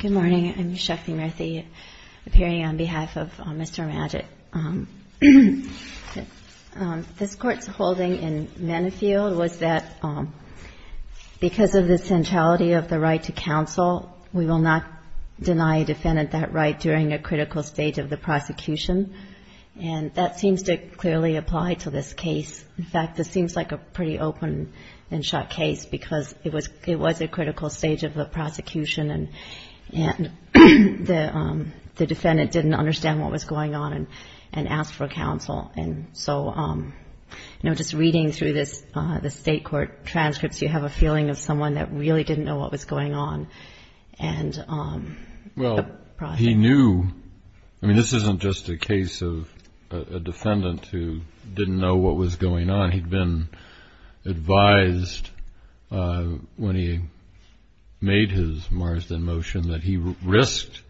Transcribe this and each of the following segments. Good morning. I'm Shakti Murthy appearing on behalf of Mr. Maggit. This Court's holding in Menifee was that because of the centrality of the right to counsel, we will not deny a defendant that right during a critical stage of the prosecution. And that seems to clearly apply to this case. In fact, this seems like a pretty open and shut case because it was a critical stage of the prosecution and the defendant didn't understand what was going on and asked for counsel. And so, you know, just reading through the State Court transcripts, you have a feeling of someone that really didn't know what was going on. Well, he knew. I mean, this isn't just a case of a defendant who didn't know what was going on. He'd been advised when he made his Marsden motion that he risked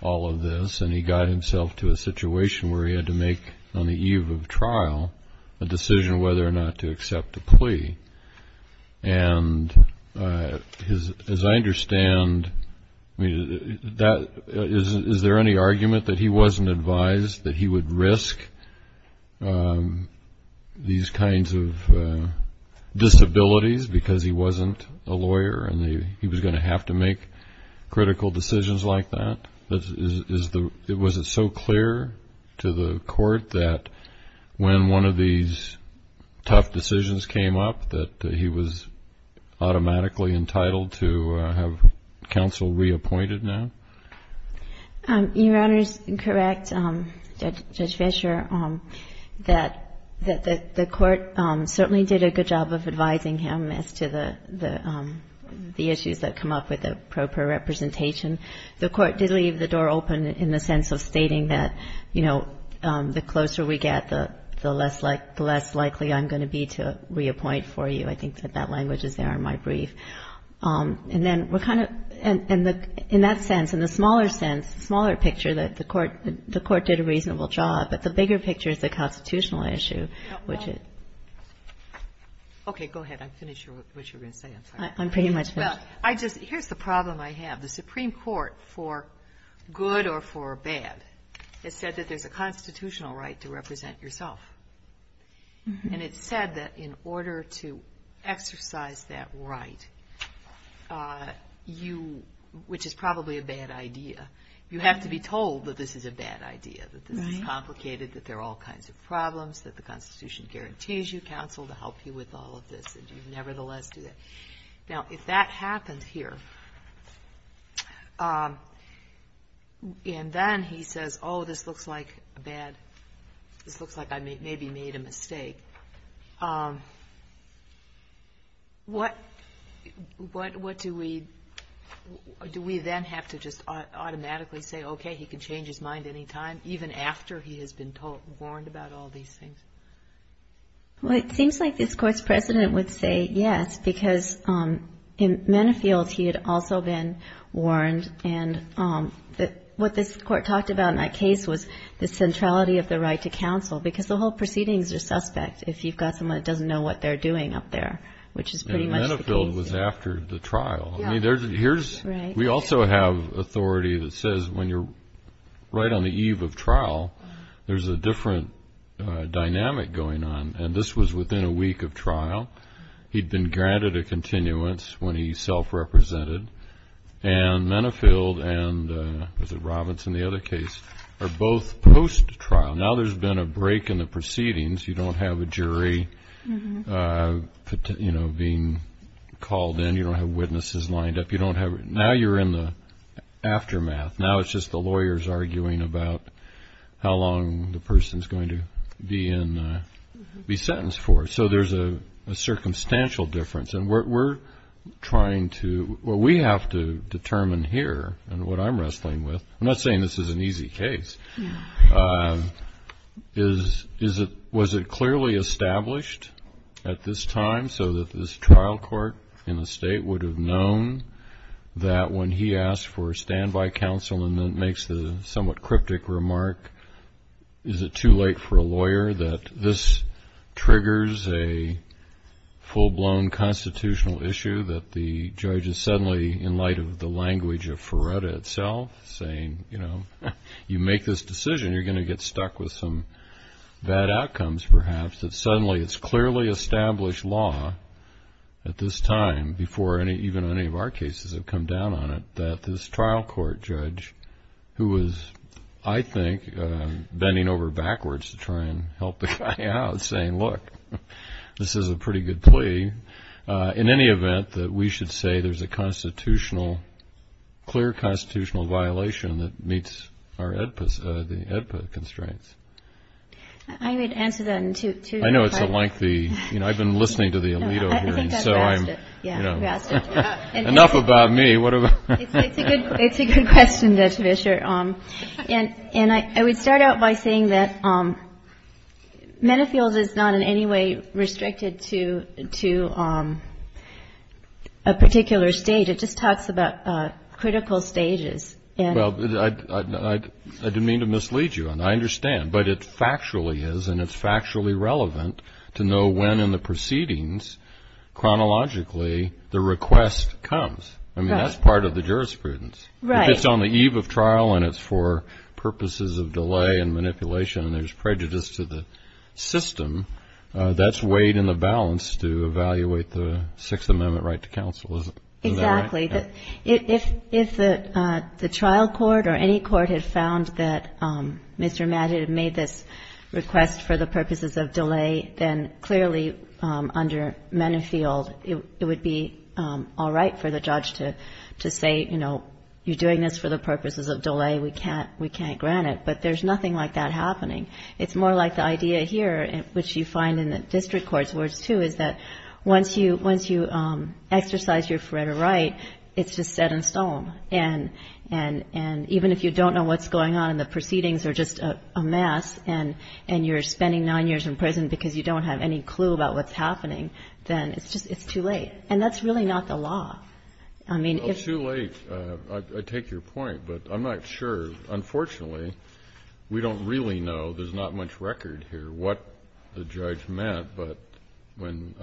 all of this and he got himself to a situation where he had to make, on the eve of trial, a decision whether or not to counsel. Is there any argument that he wasn't advised that he would risk these kinds of disabilities because he wasn't a lawyer and he was going to have to make critical decisions like that? Was it so clear to the Court that when one of these tough decisions came up that he was reappointed now? Your Honor is correct, Judge Fischer, that the Court certainly did a good job of advising him as to the issues that come up with the appropriate representation. The Court did leave the door open in the sense of stating that, you know, the closer we get, the less likely I'm going to be to reappoint for you. I think that that language is there in my brief. And then we're kind of, in that sense, in the smaller sense, smaller picture, that the Court did a reasonable job, but the bigger picture is the constitutional issue. Okay, go ahead. I'm pretty sure what you're going to say. I'm sorry. I'm pretty much finished. Here's the problem I have. The Supreme Court, for good or for bad, has said that there's a If you don't exercise that right, which is probably a bad idea, you have to be told that this is a bad idea, that this is complicated, that there are all kinds of problems, that the Constitution guarantees you counsel to help you with all of this, and you nevertheless do that. Now, if that What do we then have to just automatically say, okay, he can change his mind any time, even after he has been warned about all these things? Well, it seems like this Court's precedent would say yes, because in Menifeld, he had also been warned, and what this Court talked about in that case was the centrality of the right to counsel, because the whole proceedings are suspect if you've got someone that doesn't know what they're doing up there, which is pretty much the case. And Menifeld was after the trial. Yeah. I mean, we also have authority that says when you're right on the eve of trial, there's a different dynamic going on, and this was within a week of trial. He'd been granted a continuance when he self-represented, and Menifeld and, was it Robinson, the other case, are both post-trial. Now there's been a break in the proceedings. You don't have a jury being called in. You don't have witnesses lined up. Now you're in the aftermath. Now it's just the lawyers arguing about how long the person's going to be sentenced for. So there's a circumstantial difference, and we're trying to, well, we have to determine here, and what I'm wrestling with, I'm not saying this is an easy case, is, was it clearly established at this time so that this trial court in the state would have known that when he asked for a standby counsel and then makes the somewhat cryptic remark, is it too late for a lawyer, that this triggers a full-blown constitutional issue that the judge is suddenly, in light of the language of Ferretta itself, saying, you know, if you make this decision, you're going to get stuck with some bad outcomes, perhaps, that suddenly it's clearly established law at this time, before even any of our cases have come down on it, that this trial court judge, who was, I think, bending over backwards to try and help the guy out, saying, look, this is a pretty good plea, in any event, that we should say there's a constitutional, clear constitutional violation that meets our EDPA, the EDPA constraints. I would answer that in two different parts. I know it's a lengthy, you know, I've been listening to the Alito here, and so I'm, you know, enough about me. It's a good question, Judge Fischer, and I would start out by saying that battlefields is not in any way restricted to a particular stage. It just talks about critical stages. Well, I didn't mean to mislead you on that. I understand. But it factually is, and it's factually relevant to know when in the proceedings, chronologically, the request comes. I mean, that's part of the jurisprudence. Right. If it's on the eve of trial and it's for purposes of delay and manipulation and there's prejudice to the system, that's weighed in the balance to evaluate the Sixth Amendment right to counsel, isn't that right? Exactly. If the trial court or any court had found that Mr. Madden had made this request for the purposes of delay, then clearly, under Mennefield, it would be all right for the judge to say, you know, you're doing this for the purposes of delay, we can't grant it. But there's nothing like that happening. It's more like the idea here, which you find in the district court's words, too, is that once you exercise your fret or right, it's just set in stone. And even if you don't know what's going on and the proceedings are just a mess and you're spending nine years in prison because you don't have any clue about what's happening, then it's just too late. And that's really not the law. Well, it's too late. I take your point. But I'm not sure. Unfortunately, we don't really know. There's not much record here what the judge meant. But when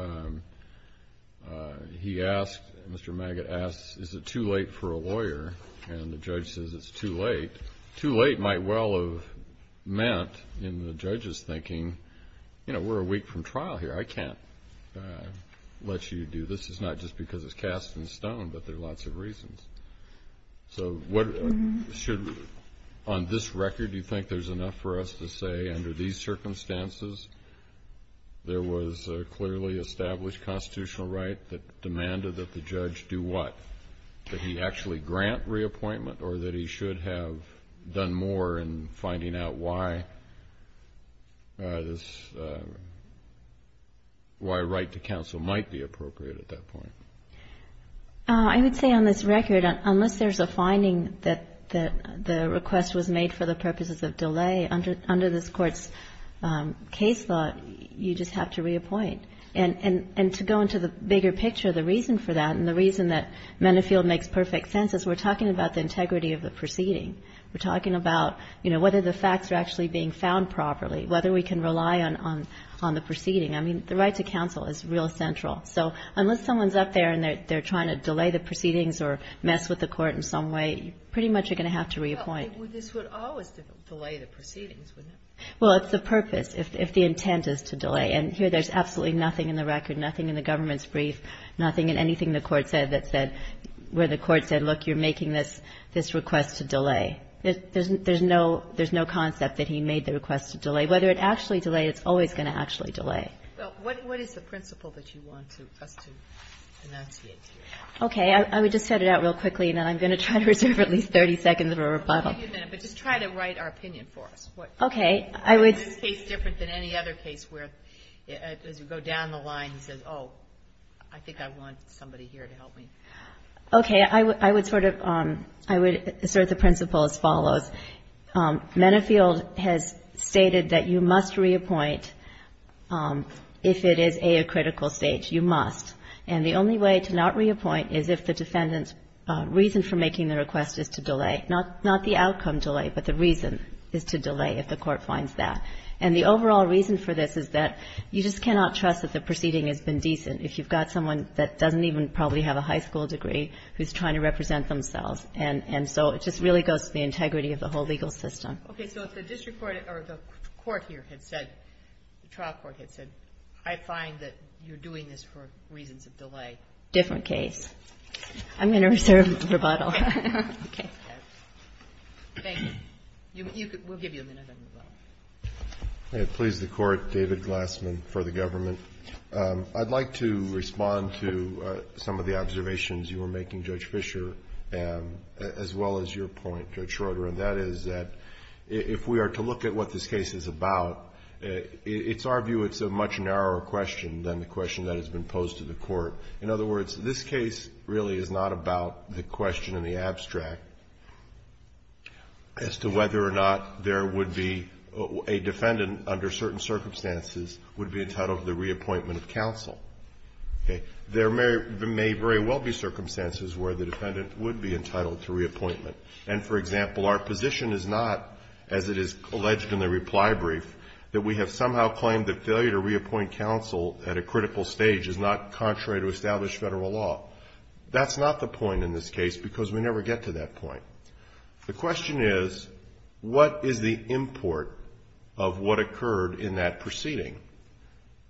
he asked, Mr. Maggott asked, is it too late for a lawyer? And the judge says it's too late. Too late might well have meant in the judge's thinking, you know, we're a week from trial here. I can't let you do this. It's not just because it's cast in stone, but there are lots of reasons. So on this record, do you think there's enough for us to say under these circumstances there was a clearly established constitutional right that demanded that the judge do what? That he actually grant reappointment or that he should have done more in finding out why a right to counsel might be appropriate at that point? I would say on this record, unless there's a finding that the request was made for the purposes of delay, under this Court's case law, you just have to reappoint. And to go into the bigger picture, the reason for that and the reason that Mennefield makes perfect sense is we're talking about the integrity of the proceeding. We're talking about, you know, whether the facts are actually being found properly, whether we can rely on the proceeding. I mean, the right to counsel is real central. So unless someone's up there and they're trying to delay the proceedings or mess with the Court in some way, you pretty much are going to have to reappoint. Well, this would always delay the proceedings, wouldn't it? Well, it's the purpose if the intent is to delay. And here there's absolutely nothing in the record, nothing in the government's brief, nothing in anything the Court said that said where the Court said, look, you're making this request to delay. There's no concept that he made the request to delay. Whether it actually delayed, it's always going to actually delay. Well, what is the principle that you want us to enunciate here? Okay. I would just set it out real quickly, and then I'm going to try to reserve at least 30 seconds of a rebuttal. Wait a minute. But just try to write our opinion for us. Okay. I would say it's different than any other case where, as you go down the line, he says, oh, I think I want somebody here to help me. Okay. I would sort of assert the principle as follows. Menefield has stated that you must reappoint if it is, A, a critical stage. You must. And the only way to not reappoint is if the defendant's reason for making the request is to delay. Not the outcome delay, but the reason is to delay if the Court finds that. And the overall reason for this is that you just cannot trust that the proceeding has been decent if you've got someone that doesn't even probably have a high school degree who's trying to represent themselves. And so it just really goes to the integrity of the whole legal system. Okay. So if the district court or the court here had said, the trial court had said, I find that you're doing this for reasons of delay. Different case. I'm going to reserve the rebuttal. Okay. Thank you. We'll give you a minute on the phone. May it please the Court. David Glassman for the government. I'd like to respond to some of the observations you were making, Judge Fischer, as well as your point, Judge Schroeder, and that is that if we are to look at what this case is about, it's our view it's a much narrower question than the question that has been posed to the Court. In other words, this case really is not about the question in the abstract as to whether or not there would be a defendant under certain circumstances would be entitled to the reappointment of counsel. Okay. There may very well be circumstances where the defendant would be entitled to reappointment. And, for example, our position is not, as it is alleged in the reply brief, that we have somehow claimed that failure to reappoint counsel at a critical stage is not contrary to established federal law. That's not the point in this case because we never get to that point. The question is, what is the import of what occurred in that proceeding?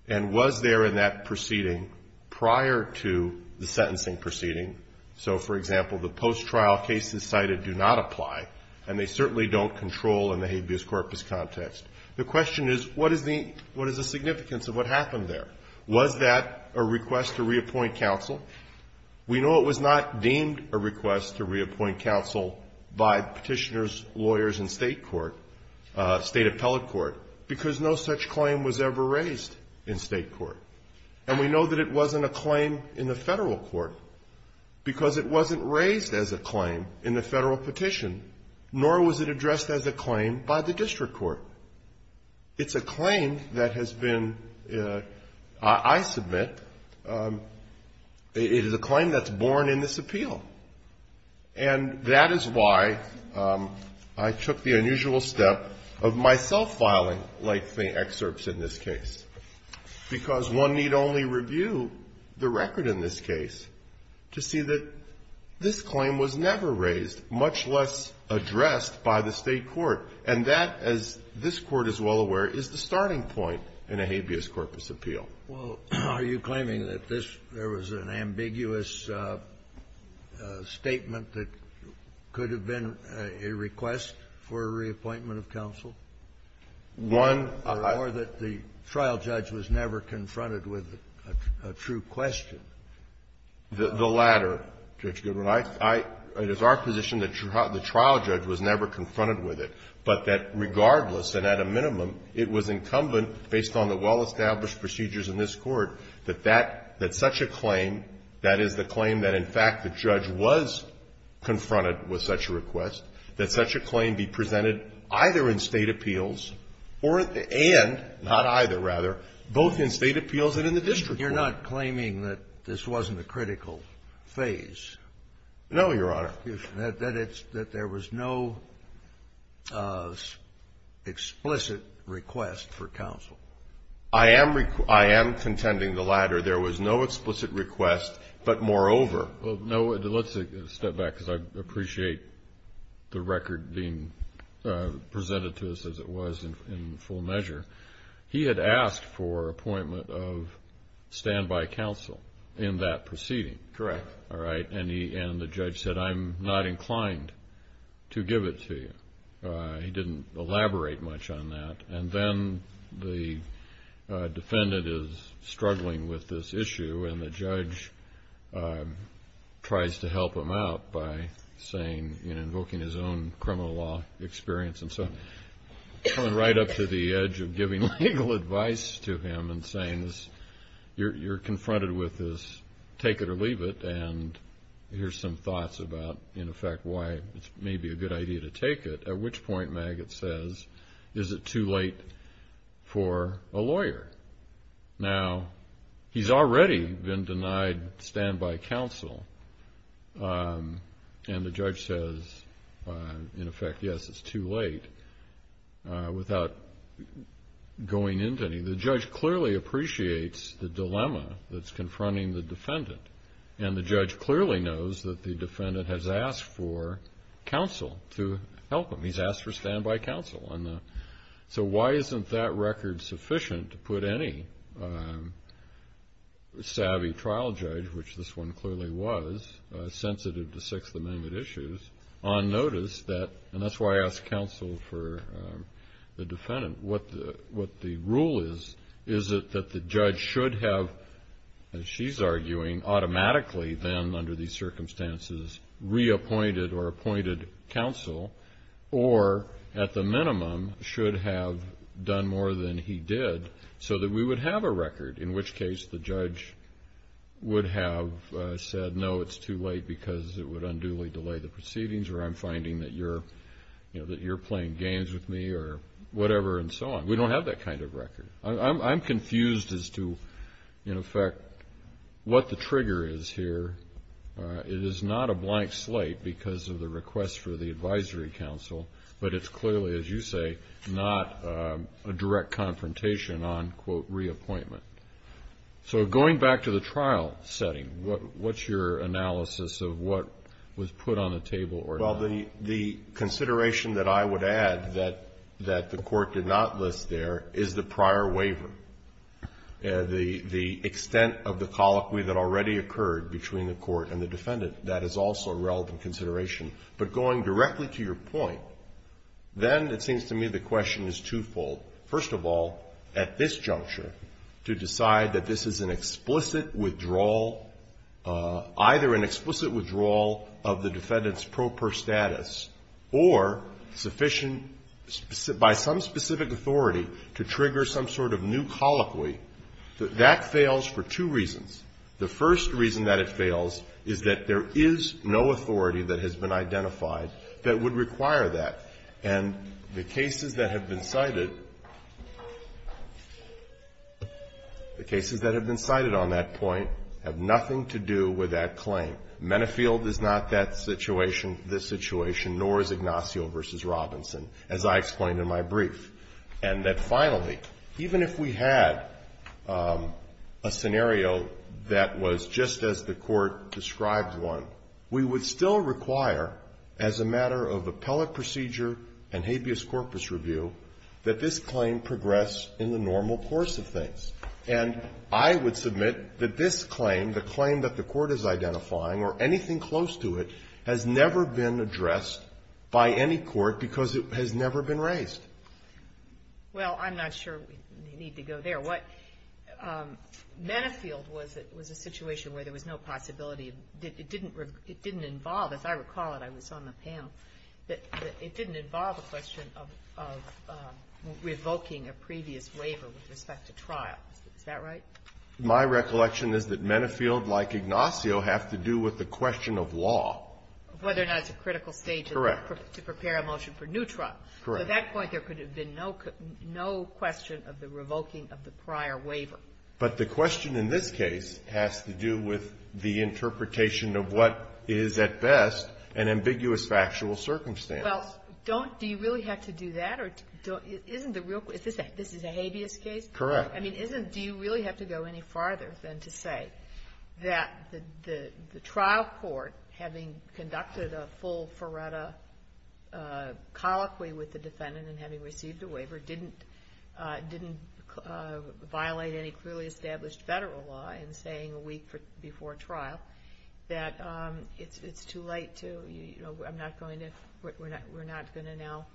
And was there in that proceeding prior to the sentencing proceeding? So, for example, the post-trial cases cited do not apply, and they certainly don't control in the habeas corpus context. The question is, what is the significance of what happened there? Was that a request to reappoint counsel? We know it was not deemed a request to reappoint counsel by petitioners, lawyers, and state court, state appellate court, because no such claim was ever raised in state court. And we know that it wasn't a claim in the federal court because it wasn't raised as a claim in the federal petition, nor was it addressed as a claim by the district court. It's a claim that has been, I submit, it is a claim that's born in this appeal. And that is why I took the unusual step of myself filing like the excerpts in this case, because one need only review the record in this case to see that this claim was never raised, much less addressed by the state court. And that, as this Court is well aware, is the starting point in a habeas corpus appeal. Well, are you claiming that this, there was an ambiguous statement that could have been a request for a reappointment of counsel? One or that the trial judge was never confronted with a true question? The latter, Judge Goodwin. I, I, it is our position that the trial judge was never confronted with it, but that that such a claim, that is the claim that in fact the judge was confronted with such a request, that such a claim be presented either in state appeals or at the end, not either rather, both in state appeals and in the district court. You're not claiming that this wasn't a critical phase? No, Your Honor. That it's, that there was no explicit request for counsel? I am, I am contending the latter. There was no explicit request, but moreover. Well, no, let's step back because I appreciate the record being presented to us as it was in full measure. He had asked for appointment of standby counsel in that proceeding. Correct. All right. And he, and the judge said, I'm not inclined to give it to you. He didn't elaborate much on that. And then the defendant is struggling with this issue and the judge tries to help him out by saying, you know, invoking his own criminal law experience and so on, coming right up to the edge of giving legal advice to him and saying this, you're, you're confronted with this, take it or leave it. And here's some thoughts about, in effect, why it's maybe a good idea to take it. At which point, Maggott says, is it too late for a lawyer? Now, he's already been denied standby counsel. And the judge says, in effect, yes, it's too late, without going into any. The judge clearly appreciates the dilemma that's confronting the defendant. And the judge clearly knows that the defendant has asked for counsel to help him. He's asked for standby counsel. So why isn't that record sufficient to put any savvy trial judge, which this one clearly was, sensitive to Sixth Amendment issues, on notice that, and that's why I asked counsel for the defendant, what the rule is, is it that the judge should have, as she's arguing, automatically then, under these circumstances, reappointed or appointed counsel, or at the minimum, should have done more than he did, so that we would have a record, in which case the judge would have said, no, it's too late, because it would unduly delay the proceedings, or I'm finding that you're, you know, that you're playing games with me, or whatever and so on. We don't have that kind of record. I'm confused as to, in effect, what the trigger is here. It is not a blank slate because of the request for the advisory counsel, but it's clearly, as you say, not a direct confrontation on, quote, reappointment. So going back to the trial setting, what's your analysis of what was put on the table or not? Well, the consideration that I would add that the court did not list there is the prior waiver, the extent of the colloquy that already occurred between the court and the defendant. That is also a relevant consideration. But going directly to your point, then it seems to me the question is twofold. First of all, at this juncture, to decide that this is an explicit withdrawal, either an explicit withdrawal of the defendant's proper status, or sufficient, by some specific authority, to trigger some sort of new colloquy, that fails for two reasons. The first reason that it fails is that there is no authority that has been identified that would require that. And the cases that have been cited, the cases that have been cited on that point have nothing to do with that claim. Menefield is not that situation, this situation, nor is Ignacio v. Robinson, as I explained in my brief. And that finally, even if we had a scenario that was just as the court described one, we would still require, as a matter of appellate procedure and habeas corpus review, that this claim progress in the normal course of things. And I would submit that this claim, the claim that the court is identifying or anything close to it, has never been addressed by any court because it has never been raised. Well, I'm not sure we need to go there. Menefield was a situation where there was no possibility. It didn't involve, as I recall it, I was on the panel, that it didn't involve a question of revoking a previous waiver with respect to trial. Is that right? My recollection is that Menefield, like Ignacio, have to do with the question of law. Whether or not it's a critical stage to prepare a motion for new trial. Correct. At that point, there could have been no question of the revoking of the prior waiver. But the question in this case has to do with the interpretation of what is at best an ambiguous factual circumstance. Well, don't, do you really have to do that? Isn't the real, this is a habeas case? Correct. I mean, isn't, do you really have to go any farther than to say that the trial court, having conducted a full Ferretta colloquy with the defendant and having received a waiver, didn't violate any clearly established Federal law in saying a week before trial that it's too late to, you know, I'm not going to, we're not going to now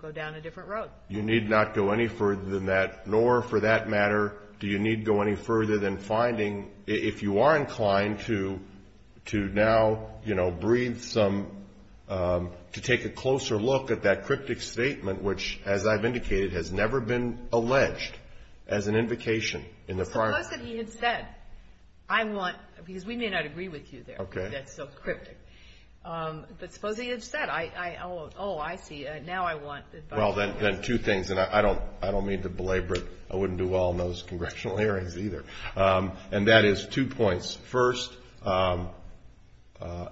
go down a different road. You need not go any further than that. Nor, for that matter, do you need go any further than finding, if you are inclined to, to now, you know, breathe some, to take a closer look at that cryptic statement, which, as I've indicated, has never been alleged as an invocation in the prior. Suppose that he had said, I want, because we may not agree with you there. Okay. That's so cryptic. But suppose he had said, I, I, oh, I see. Now I want. Well, then, then two things, and I don't, I don't mean to belabor it. I wouldn't do well in those congressional hearings either. And that is two points. First,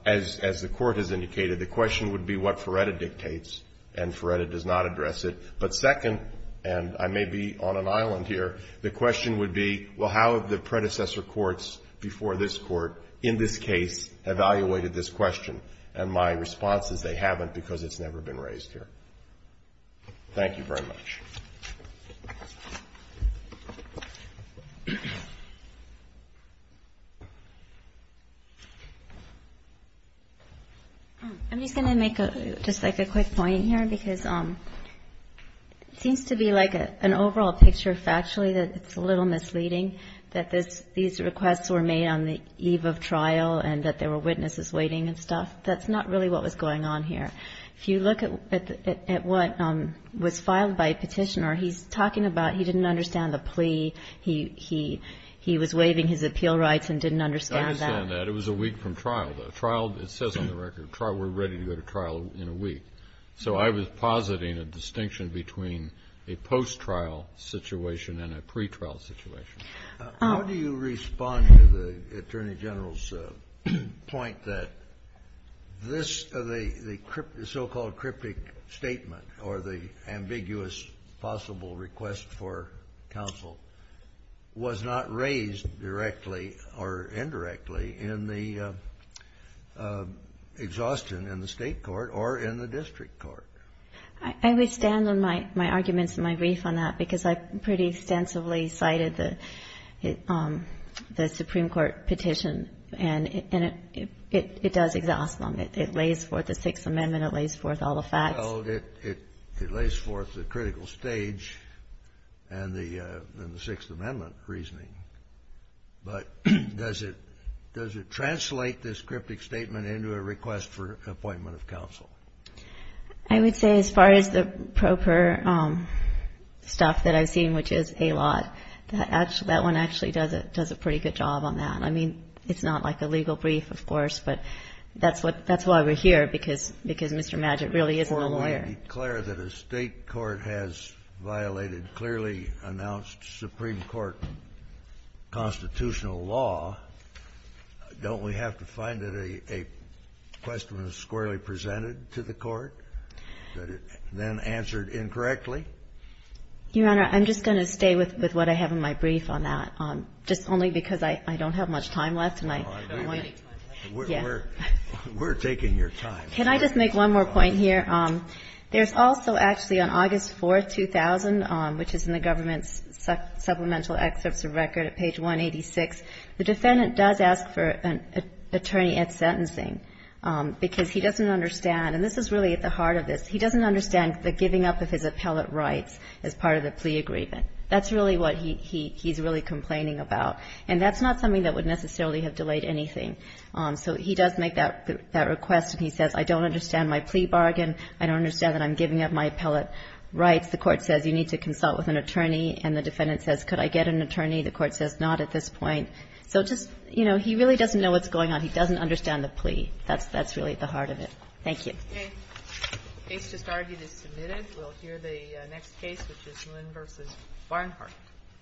as, as the court has indicated, the question would be what Ferretta dictates, and Ferretta does not address it. But second, and I may be on an island here, the question would be, well, how have the predecessor courts before this court, in this case, evaluated this question? And my response is, they haven't, because it's never been raised here. Thank you very much. I'm just going to make a, just like a quick point here, because it seems to be like an overall picture, factually, that it's a little misleading, that this, these requests were made on the eve of trial, and that there were witnesses waiting and stuff. That's not really what was going on here. If you look at, at what was filed by a petitioner, he's talking about he didn't understand the plea, he, he, he was waiving his appeal rights and didn't understand that. I understand that. It was a week from trial, though. Trial, it says on the record, trial, we're ready to go to trial in a week. So I was positing a distinction between a post-trial situation and a pre-trial situation. How do you respond to the Attorney General's point that this, the, the so-called cryptic statement or the ambiguous possible request for counsel was not raised directly or indirectly in the exhaustion in the state court or in the district court? I, I withstand my, my arguments and my grief on that, because I pretty extensively cited the, the Supreme Court petition, and it, and it, it, it does exhaust them. It, it lays forth the Sixth Amendment, it lays forth all the facts. Well, it, it, it lays forth the critical stage and the, and the Sixth Amendment reasoning. But does it, does it translate this cryptic statement into a request for appointment of counsel? I would say as far as the proper stuff that I've seen, which is a lot, that actually, that one actually does a, does a pretty good job on that. I mean, it's not like a legal brief, of course, but that's what, that's why we're here, because, because Mr. Madgett really is a lawyer. Before we declare that a state court has violated clearly announced Supreme Court constitutional law, don't we have to find that a, a question was squarely presented to the court that it then answered incorrectly? Your Honor, I'm just going to stay with, with what I have in my brief on that, just only because I, I don't have much time left and I don't want to. We're, we're, we're taking your time. Can I just make one more point here? There's also actually on August 4th, 2000, which is in the government's supplemental excerpts of record at page 186, the defendant does ask for an attorney at sentencing, because he doesn't understand, and this is really at the heart of this, he doesn't understand the giving up of his appellate rights as part of the plea agreement. That's really what he, he, he's really complaining about. And that's not something that would necessarily have delayed anything. So he does make that, that request and he says, I don't understand my plea bargain. I don't understand that I'm giving up my appellate rights. The court says, you need to consult with an attorney and the defendant says, could I get an attorney? The court says, not at this point. So just, you know, he really doesn't know what's going on. He doesn't understand the plea. That's, that's really at the heart of it. Thank you. Okay. Case just argued is submitted. We'll hear the next case, which is Moon v. Barnhart.